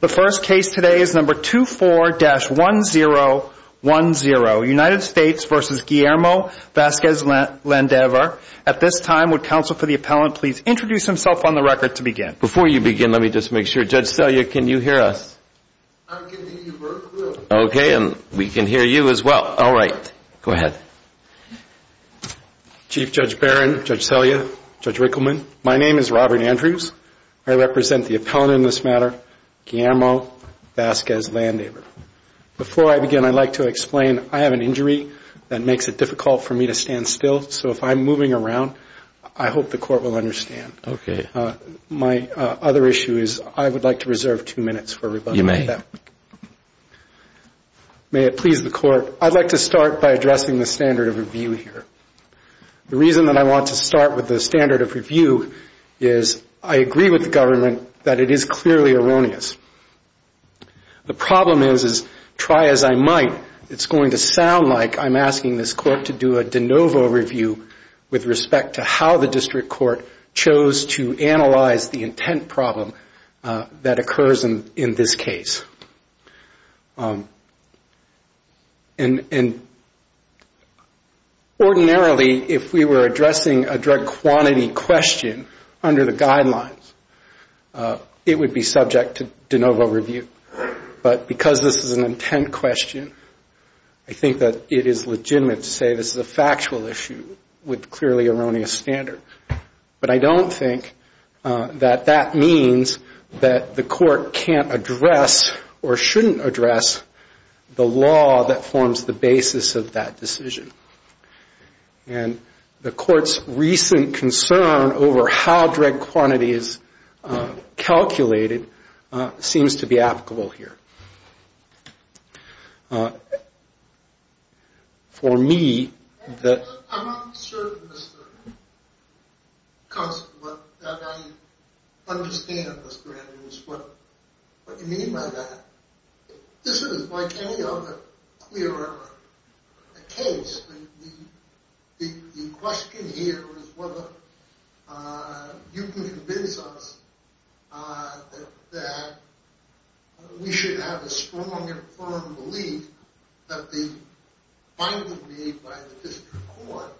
The first case today is number 24-1010, United States v. Guillermo Vasquez-Landaver. At this time, would counsel for the appellant please introduce himself on the record to begin. Before you begin, let me just make sure. Judge Selya, can you hear us? I can hear you very clearly. Okay. We can hear you as well. All right. Go ahead. Chief Judge Barron, Judge Selya, Judge Rickleman, my name is Robert Andrews. I represent the appellant in this matter, Guillermo Vasquez-Landaver. Before I begin, I'd like to explain I have an injury that makes it difficult for me to stand still. So if I'm moving around, I hope the court will understand. My other issue is I would like to reserve two minutes for rebuttal. You may. May it please the court, I'd like to start by addressing the standard of review here. The reason that I want to start with the standard of review is I agree with the government that it is clearly erroneous. The problem is, is try as I might, it's going to sound like I'm asking this court to do a de novo review with respect to how the district court chose to analyze the intent problem that occurs in this case. And ordinarily, if we were addressing a drug quantity question under the guidelines, it would be subject to de novo review. But because this is an intent question, I think that it is legitimate to say this is a factual issue with clearly erroneous standard. But I don't think that that means that the court can't address or shouldn't address the law that forms the basis of that decision. And the court's recent concern over how drug quantity is calculated seems to be applicable here. For me, I'm not certain, Mr. Constable, that I understand, Mr. Adams, what you mean by that. This isn't like any other clear case. The question here is whether you can convince us that we should have a strong and firm belief that the finding made by the district court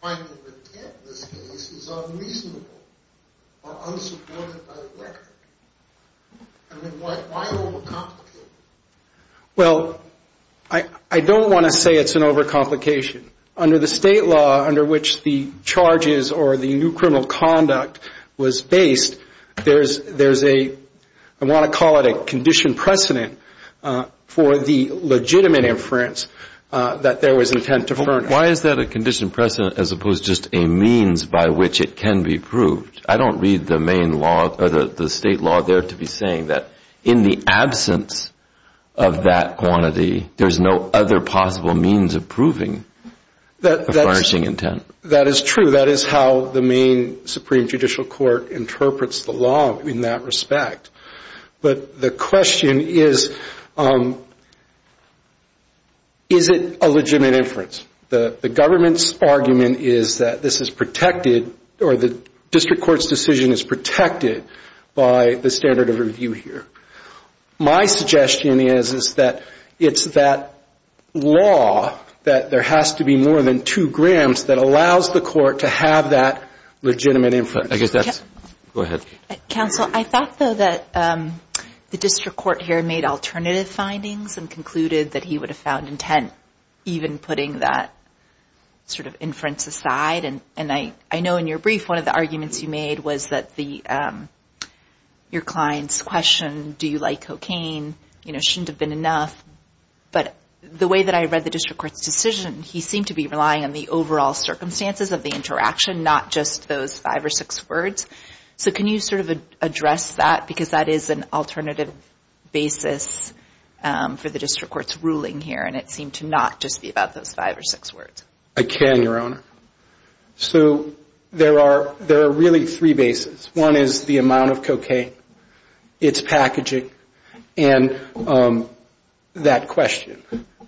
finding the intent of this case is unreasonable or unsupported by the record. I mean, why overcomplicate it? Well, I don't want to say it's an overcomplication. Under the state law under which the charges or the new criminal conduct was based, there's a, I want to call it a condition precedent, for the legitimate inference that there was intent to furnish. Why is that a condition precedent as opposed to just a means by which it can be proved? I don't read the main law or the state law there to be saying that in the absence of that quantity, there's no other possible means of proving the furnishing intent. That is true. That is how the main Supreme Judicial Court interprets the law in that respect. But the question is, is it a legitimate inference? The government's argument is that this is protected or the district court's decision is protected by the standard of review here. My suggestion is that it's that law that there has to be more than two grams that allows the court to have that legitimate inference. I guess that's, go ahead. Counsel, I thought, though, that the district court here made alternative findings and concluded that he would have found intent even putting that sort of inference aside. And I know in your brief, one of the arguments you made was that the, your client's question, do you like cocaine, you know, shouldn't have been enough. But the way that I read the district court's decision, he seemed to be relying on the overall circumstances of the interaction, not just those five or six words. So can you sort of address that? Because that is an alternative basis for the district court's ruling here, and it seemed to not just be about those five or six words. I can, Your Honor. So there are really three bases. One is the amount of cocaine, its packaging, and that question.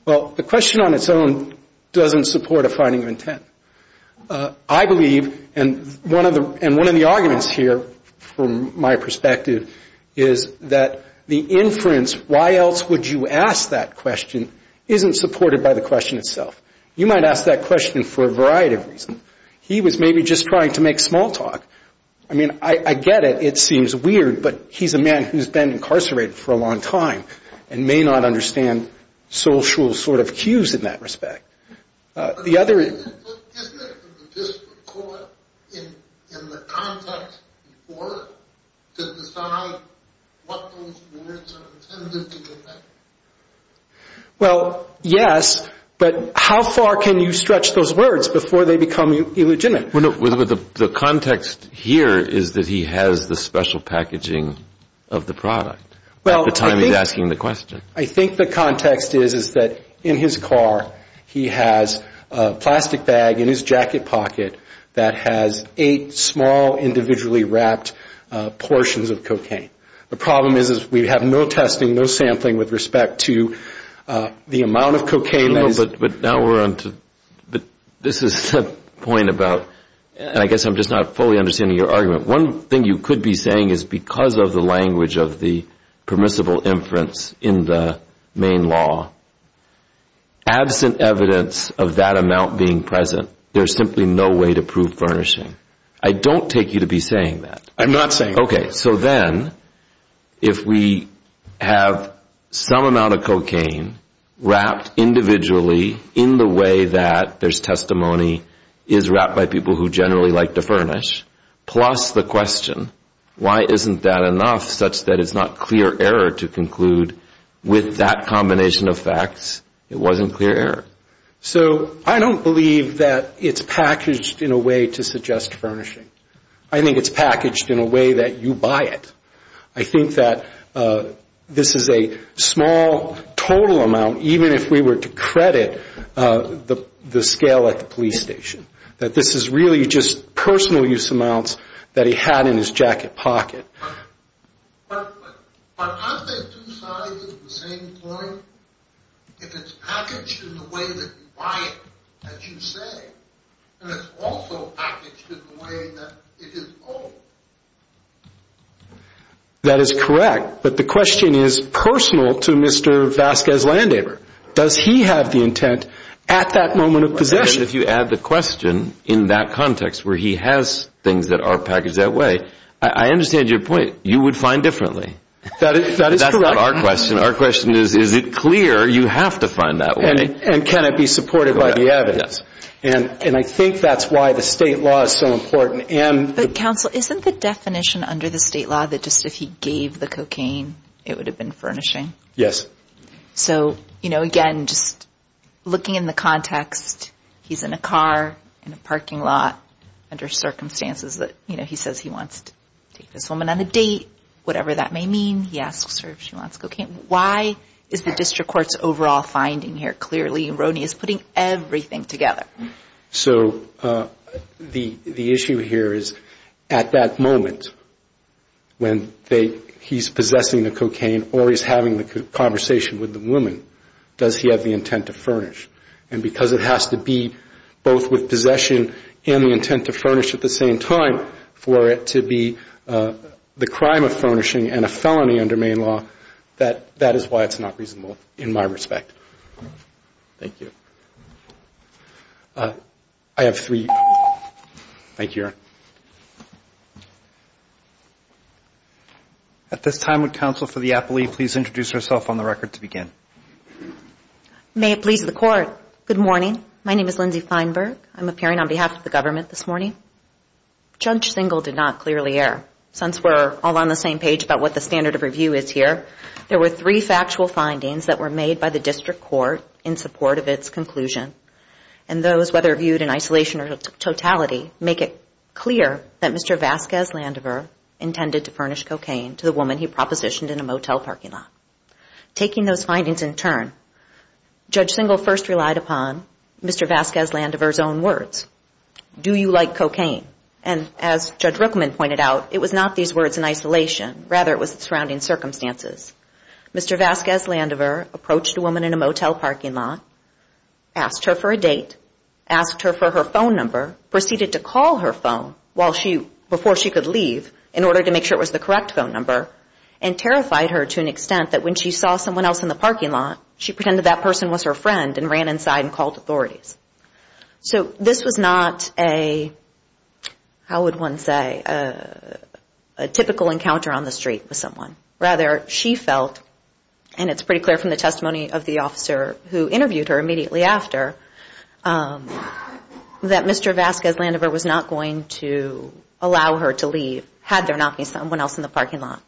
Well, the question on its own doesn't support a finding of intent. I believe, and one of the arguments here from my perspective is that the inference, why else would you ask that question, isn't supported by the question itself. You might ask that question for a variety of reasons. He was maybe just trying to make small talk. I mean, I get it. It seems weird, but he's a man who's been incarcerated for a long time and may not understand social sort of cues in that respect. Isn't it for the district court, in the context before it, to decide what those words are intended to mean? Well, yes, but how far can you stretch those words before they become illegitimate? The context here is that he has the special packaging of the product at the time he's asking the question. I think the context is that in his car he has a plastic bag in his jacket pocket that has eight small individually wrapped portions of cocaine. The problem is we have no testing, no sampling with respect to the amount of cocaine. But now we're on to, this is the point about, and I guess I'm just not fully understanding your argument. One thing you could be saying is because of the language of the permissible inference in the main law, absent evidence of that amount being present, there's simply no way to prove furnishing. I don't take you to be saying that. I'm not saying that. Okay, so then if we have some amount of cocaine wrapped individually in the way that there's testimony is wrapped by people who generally like to furnish, plus the question, why isn't that enough such that it's not clear error to conclude with that combination of facts it wasn't clear error? So I don't believe that it's packaged in a way to suggest furnishing. I think it's packaged in a way that you buy it. I think that this is a small total amount, even if we were to credit the scale at the police station, that this is really just personal use amounts that he had in his jacket pocket. But aren't they two sides of the same coin? If it's packaged in the way that you buy it, as you say, then it's also packaged in the way that it is owned. That is correct, but the question is personal to Mr. Vasquez Landaber. Does he have the intent at that moment of possession? If you add the question in that context where he has things that are packaged that way, I understand your point. You would find differently. That is correct. That's not our question. Our question is, is it clear you have to find that way? And can it be supported by the evidence? Yes. And I think that's why the state law is so important. But counsel, isn't the definition under the state law that just if he gave the cocaine, it would have been furnishing? Yes. So, again, just looking in the context, he's in a car, in a parking lot, under circumstances that he says he wants to take this woman on a date, whatever that may mean. He asks her if she wants cocaine. Why is the district court's overall finding here clearly erroneous, putting everything together? So the issue here is at that moment when he's possessing the cocaine or he's having the conversation with the woman, does he have the intent to furnish? And because it has to be both with possession and the intent to furnish at the same time for it to be the crime of furnishing and a felony under Maine law, that is why it's not reasonable in my respect. Thank you. I have three questions. Thank you, Your Honor. At this time, would counsel for the appellee please introduce herself on the record to begin? May it please the Court. Good morning. My name is Lindsay Feinberg. I'm appearing on behalf of the government this morning. Judge Singal did not clearly err. Since we're all on the same page about what the standard of review is here, there were three factual findings that were made by the district court in support of its conclusion. And those, whether viewed in isolation or totality, make it clear that Mr. Vasquez-Landever intended to furnish cocaine to the woman he propositioned in a motel parking lot. Taking those findings in turn, Judge Singal first relied upon Mr. Vasquez-Landever's own words, do you like cocaine? And as Judge Rookman pointed out, it was not these words in isolation. Rather, it was the surrounding circumstances. Mr. Vasquez-Landever approached a woman in a motel parking lot, asked her for a date, asked her for her phone number, proceeded to call her phone before she could leave in order to make sure it was the correct phone number, and terrified her to an extent that when she saw someone else in the parking lot, she pretended that person was her friend and ran inside and called authorities. So this was not a, how would one say, a typical encounter on the street with someone. Rather, she felt, and it's pretty clear from the testimony of the officer who interviewed her immediately after, that Mr. Vasquez-Landever was not going to allow her to leave had there not been someone else in the parking lot.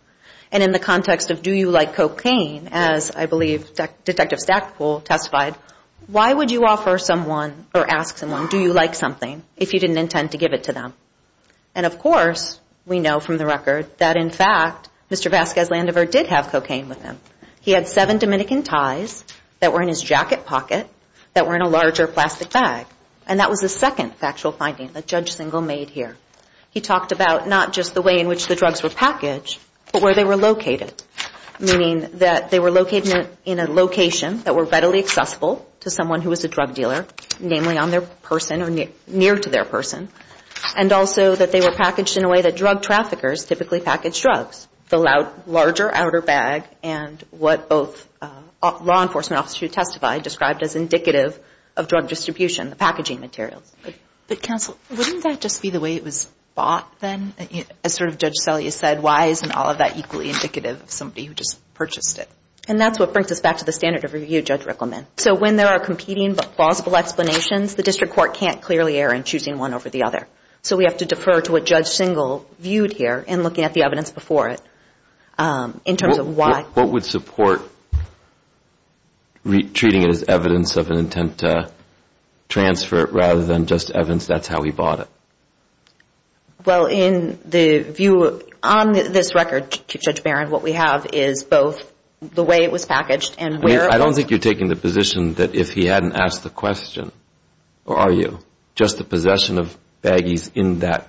And in the context of do you like cocaine, as I believe Detective Stackpole testified, why would you offer someone or ask someone do you like something if you didn't intend to give it to them? And of course, we know from the record that in fact, Mr. Vasquez-Landever did have cocaine with him. He had seven Dominican ties that were in his jacket pocket that were in a larger plastic bag. And that was the second factual finding that Judge Singel made here. He talked about not just the way in which the drugs were packaged, but where they were located, meaning that they were located in a location that were readily accessible to someone who was a drug dealer, namely on their person or near to their person, and also that they were packaged in a way that drug traffickers typically package drugs. The larger outer bag and what both law enforcement officers who testified described as indicative of drug distribution, the packaging materials. But counsel, wouldn't that just be the way it was bought then? As sort of Judge Selye said, why isn't all of that equally indicative of somebody who just purchased it? And that's what brings us back to the standard of review Judge Rickleman. So when there are competing but plausible explanations, the district court can't clearly err in choosing one over the other. So we have to defer to what Judge Singel viewed here in looking at the evidence before it in terms of why. What would support treating it as evidence of an intent to transfer it rather than just evidence that's how he bought it? Well, in the view on this record, Judge Barron, what we have is both the way it was packaged and where. I don't think you're taking the position that if he hadn't asked the question, or are you, just the possession of baggies in that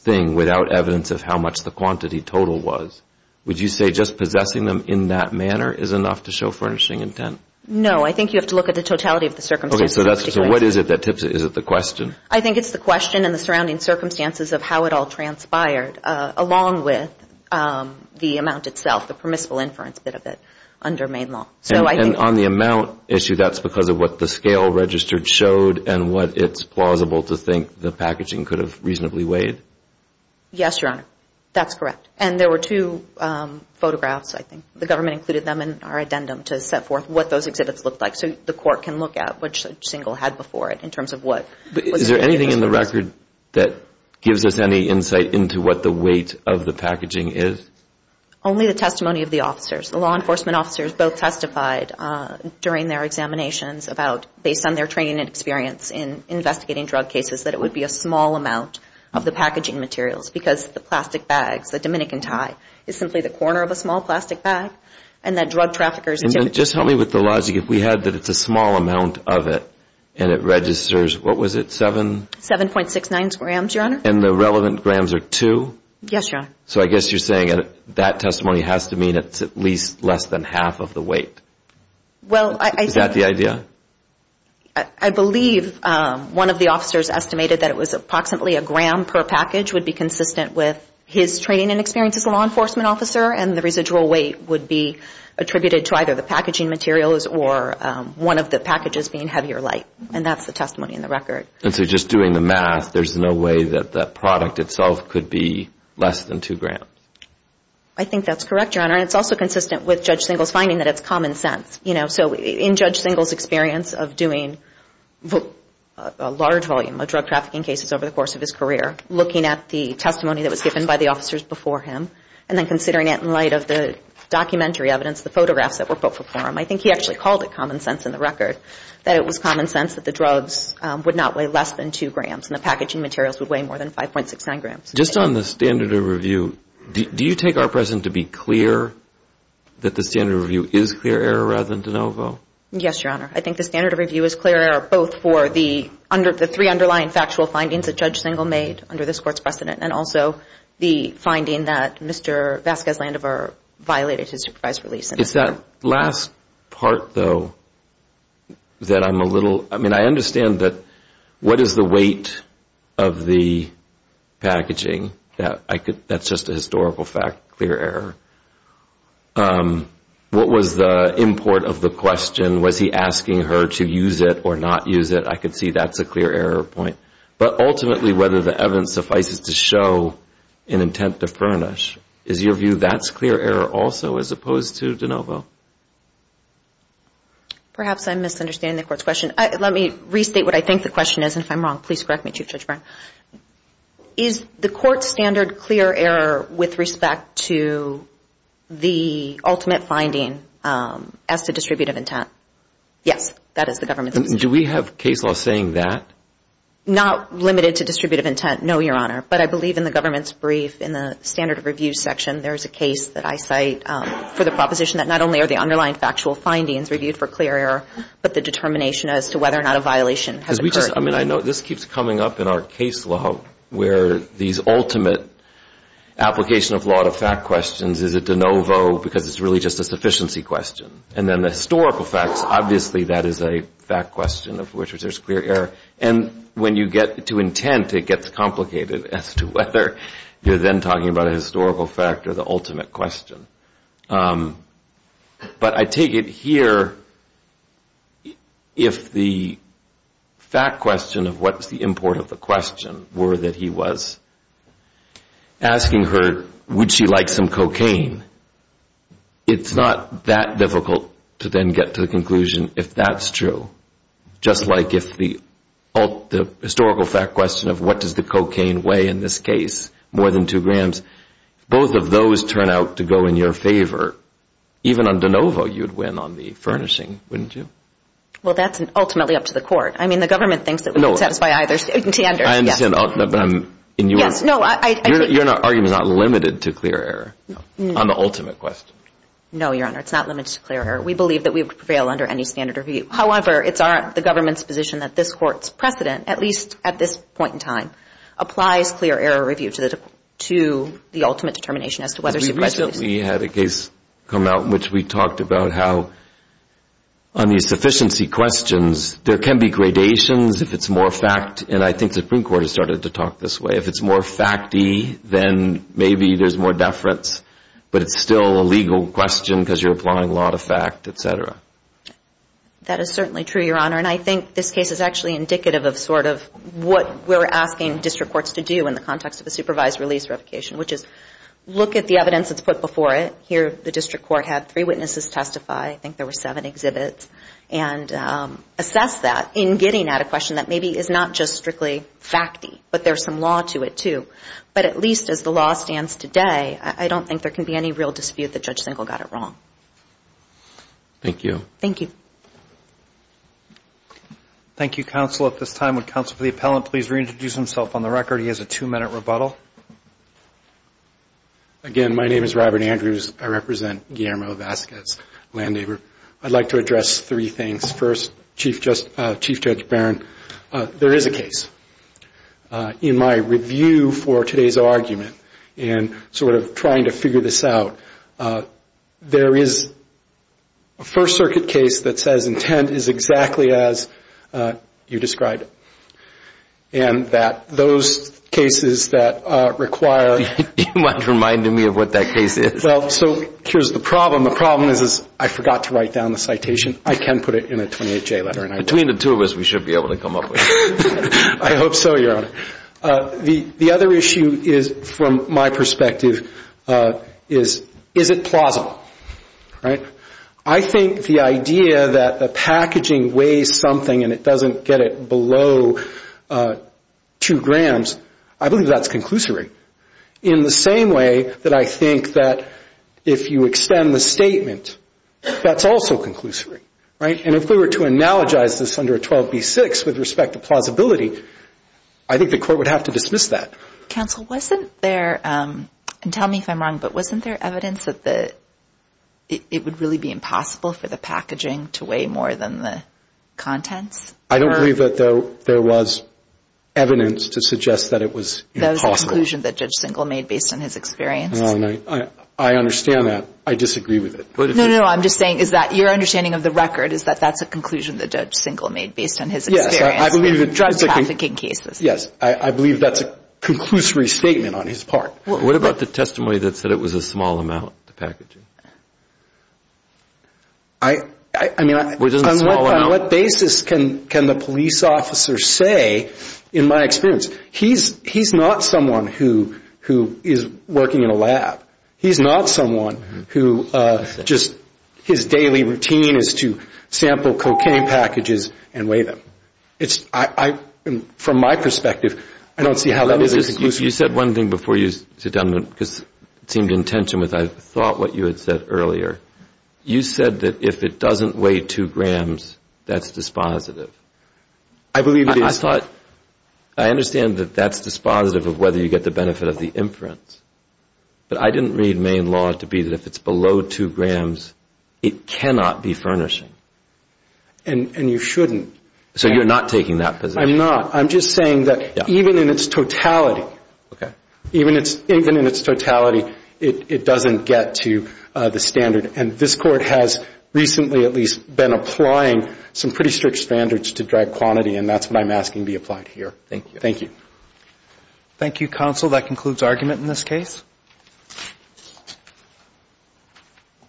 thing without evidence of how much the quantity total was. Would you say just possessing them in that manner is enough to show furnishing intent? No. I think you have to look at the totality of the circumstances. Okay. So what is it that tips it? Is it the question? I think it's the question and the surrounding circumstances of how it all transpired along with the amount itself, the permissible inference bit of it under Maine law. And on the amount issue, that's because of what the scale registered showed and what it's plausible to think the packaging could have reasonably weighed? Yes, Your Honor. That's correct. And there were two photographs, I think. The government included them in our addendum to set forth what those exhibits looked like so the court can look at which single had before it in terms of what was included. But is there anything in the record that gives us any insight into what the weight of the packaging is? Only the testimony of the officers. The law enforcement officers both testified during their examinations about, based on their training and experience in investigating drug cases, that it would be a small amount of the packaging materials because the plastic bags, the Dominican tie, is simply the corner of a small plastic bag. And that drug traffickers... And then just help me with the logic. If we had that it's a small amount of it and it registers, what was it, 7? 7.69 grams, Your Honor. And the relevant grams are 2? Yes, Your Honor. So I guess you're saying that testimony has to mean it's at least less than half of the weight. Is that the idea? I believe one of the officers estimated that it was approximately a gram per package which would be consistent with his training and experience as a law enforcement officer and the residual weight would be attributed to either the packaging materials or one of the packages being heavier light. And that's the testimony in the record. And so just doing the math, there's no way that that product itself could be less than 2 grams? I think that's correct, Your Honor. And it's also consistent with Judge Singal's finding that it's common sense. So in Judge Singal's experience of doing a large volume of drug trafficking cases over the course of his career, looking at the testimony that was given by the officers before him, and then considering it in light of the documentary evidence, the photographs that were put before him, I think he actually called it common sense in the record, that it was common sense that the drugs would not weigh less than 2 grams and the packaging materials would weigh more than 5.69 grams. Just on the standard of review, do you take our precedent to be clear that the standard of review is clear error rather than de novo? Yes, Your Honor. I think the standard of review is clear error both for the three underlying factual findings that Judge Singal made under this Court's precedent and also the finding that Mr. Vasquez-Landover violated his supervised release. It's that last part, though, that I'm a little – I mean, I understand that – what is the weight of the packaging? That's just a historical fact, clear error. What was the import of the question? Was he asking her to use it or not use it? I could see that's a clear error point. But ultimately, whether the evidence suffices to show an intent to furnish, is your view that's clear error also as opposed to de novo? Perhaps I'm misunderstanding the Court's question. Let me restate what I think the question is, and if I'm wrong, please correct me, Chief Judge Brown. Is the Court's standard clear error with respect to the ultimate finding as to distributive intent? Yes, that is the Government's. Do we have case law saying that? Not limited to distributive intent, no, Your Honor. But I believe in the Government's brief in the standard of review section, there is a case that I cite for the proposition that not only are the underlying factual findings reviewed for clear error, but the determination as to whether or not a violation has occurred. We just, I mean, I know this keeps coming up in our case law, where these ultimate application of law to fact questions is a de novo because it's really just a sufficiency question. And then the historical facts, obviously that is a fact question of which there's clear error. And when you get to intent, it gets complicated as to whether you're then talking about a historical fact or the ultimate question. But I take it here, if the fact question of what's the import of the question were that he was asking her, would she like some cocaine, it's not that difficult to then get to the conclusion if that's true. Just like if the historical fact question of what does the cocaine weigh in this case, more than two grams, both of those turn out to go in your favor. Even on de novo, you'd win on the furnishing, wouldn't you? Well, that's ultimately up to the court. I mean, the government thinks that we can satisfy either standard. I understand, but I'm in your... Yes, no, I... Your argument is not limited to clear error on the ultimate question. No, Your Honor, it's not limited to clear error. We believe that we prevail under any standard review. However, it's the government's position that this court's precedent, at least at this point in time, applies clear error review to the ultimate determination as to whether she presented... We recently had a case come out in which we talked about how on these sufficiency questions, there can be gradations if it's more fact, and I think the Supreme Court has started to talk this way. If it's more facty, then maybe there's more deference, but it's still a legal question because you're applying law to fact, et cetera. That is certainly true, Your Honor, and I think this case is actually indicative of sort of what we're asking district courts to do in the context of a supervised release revocation, which is look at the evidence that's put before it. Here, the district court had three witnesses testify. I think there were seven exhibits, and assess that in getting at a question that maybe is not just strictly facty, but there's some law to it, too. But at least as the law stands today, I don't think there can be any real dispute that Judge Singel got it wrong. Thank you. Thank you. Thank you, counsel. At this time, would counsel for the appellant please reintroduce himself on the record? He has a two-minute rebuttal. Again, my name is Robert Andrews. I represent Guillermo Vasquez, land neighbor. I'd like to address three things. First, Chief Judge Barron, there is a case. In my review for today's argument and sort of trying to figure this out, there is a First Circuit case that says intent is exactly as you described it, and that those cases that require You're reminding me of what that case is. Well, so here's the problem. The problem is I forgot to write down the citation. I can put it in a 28-J letter. Between the two of us, we should be able to come up with it. I hope so, Your Honor. The other issue is, from my perspective, is, is it plausible? I think the idea that the packaging weighs something and it doesn't get it below two grams, I believe that's conclusory in the same way that I think that if you extend the statement, that's also conclusory. Right? And if we were to analogize this under a 12B6 with respect to plausibility, I think the court would have to dismiss that. Counsel, wasn't there, and tell me if I'm wrong, but wasn't there evidence that it would really be impossible for the packaging to weigh more than the contents? I don't believe that there was evidence to suggest that it was impossible. That was the conclusion that Judge Singel made based on his experience. I understand that. I disagree with it. No, no, no. I'm just saying is that your understanding of the record is that that's a conclusion that Judge Singel made based on his experience in drug trafficking cases. Yes. I believe that's a conclusory statement on his part. What about the testimony that said it was a small amount, the packaging? I mean, on what basis can the police officer say, in my experience, he's not someone who is working in a lab. He's not someone who just his daily routine is to sample cocaine packages and weigh them. From my perspective, I don't see how that is a conclusion. You said one thing before you sit down, because it seemed in tension with I thought what you had said earlier. You said that if it doesn't weigh two grams, that's dispositive. I believe it is. I thought, I understand that that's dispositive of whether you get the benefit of the inference, but I didn't read Maine law to be that if it's below two grams, it cannot be furnishing. And you shouldn't. So you're not taking that position? I'm not. I'm just saying that even in its totality, even in its totality, it doesn't get to the standard. And this Court has recently at least been applying some pretty strict standards to drug quantity, and that's what I'm asking be applied here. Thank you. Thank you. Thank you, counsel. That concludes argument in this case.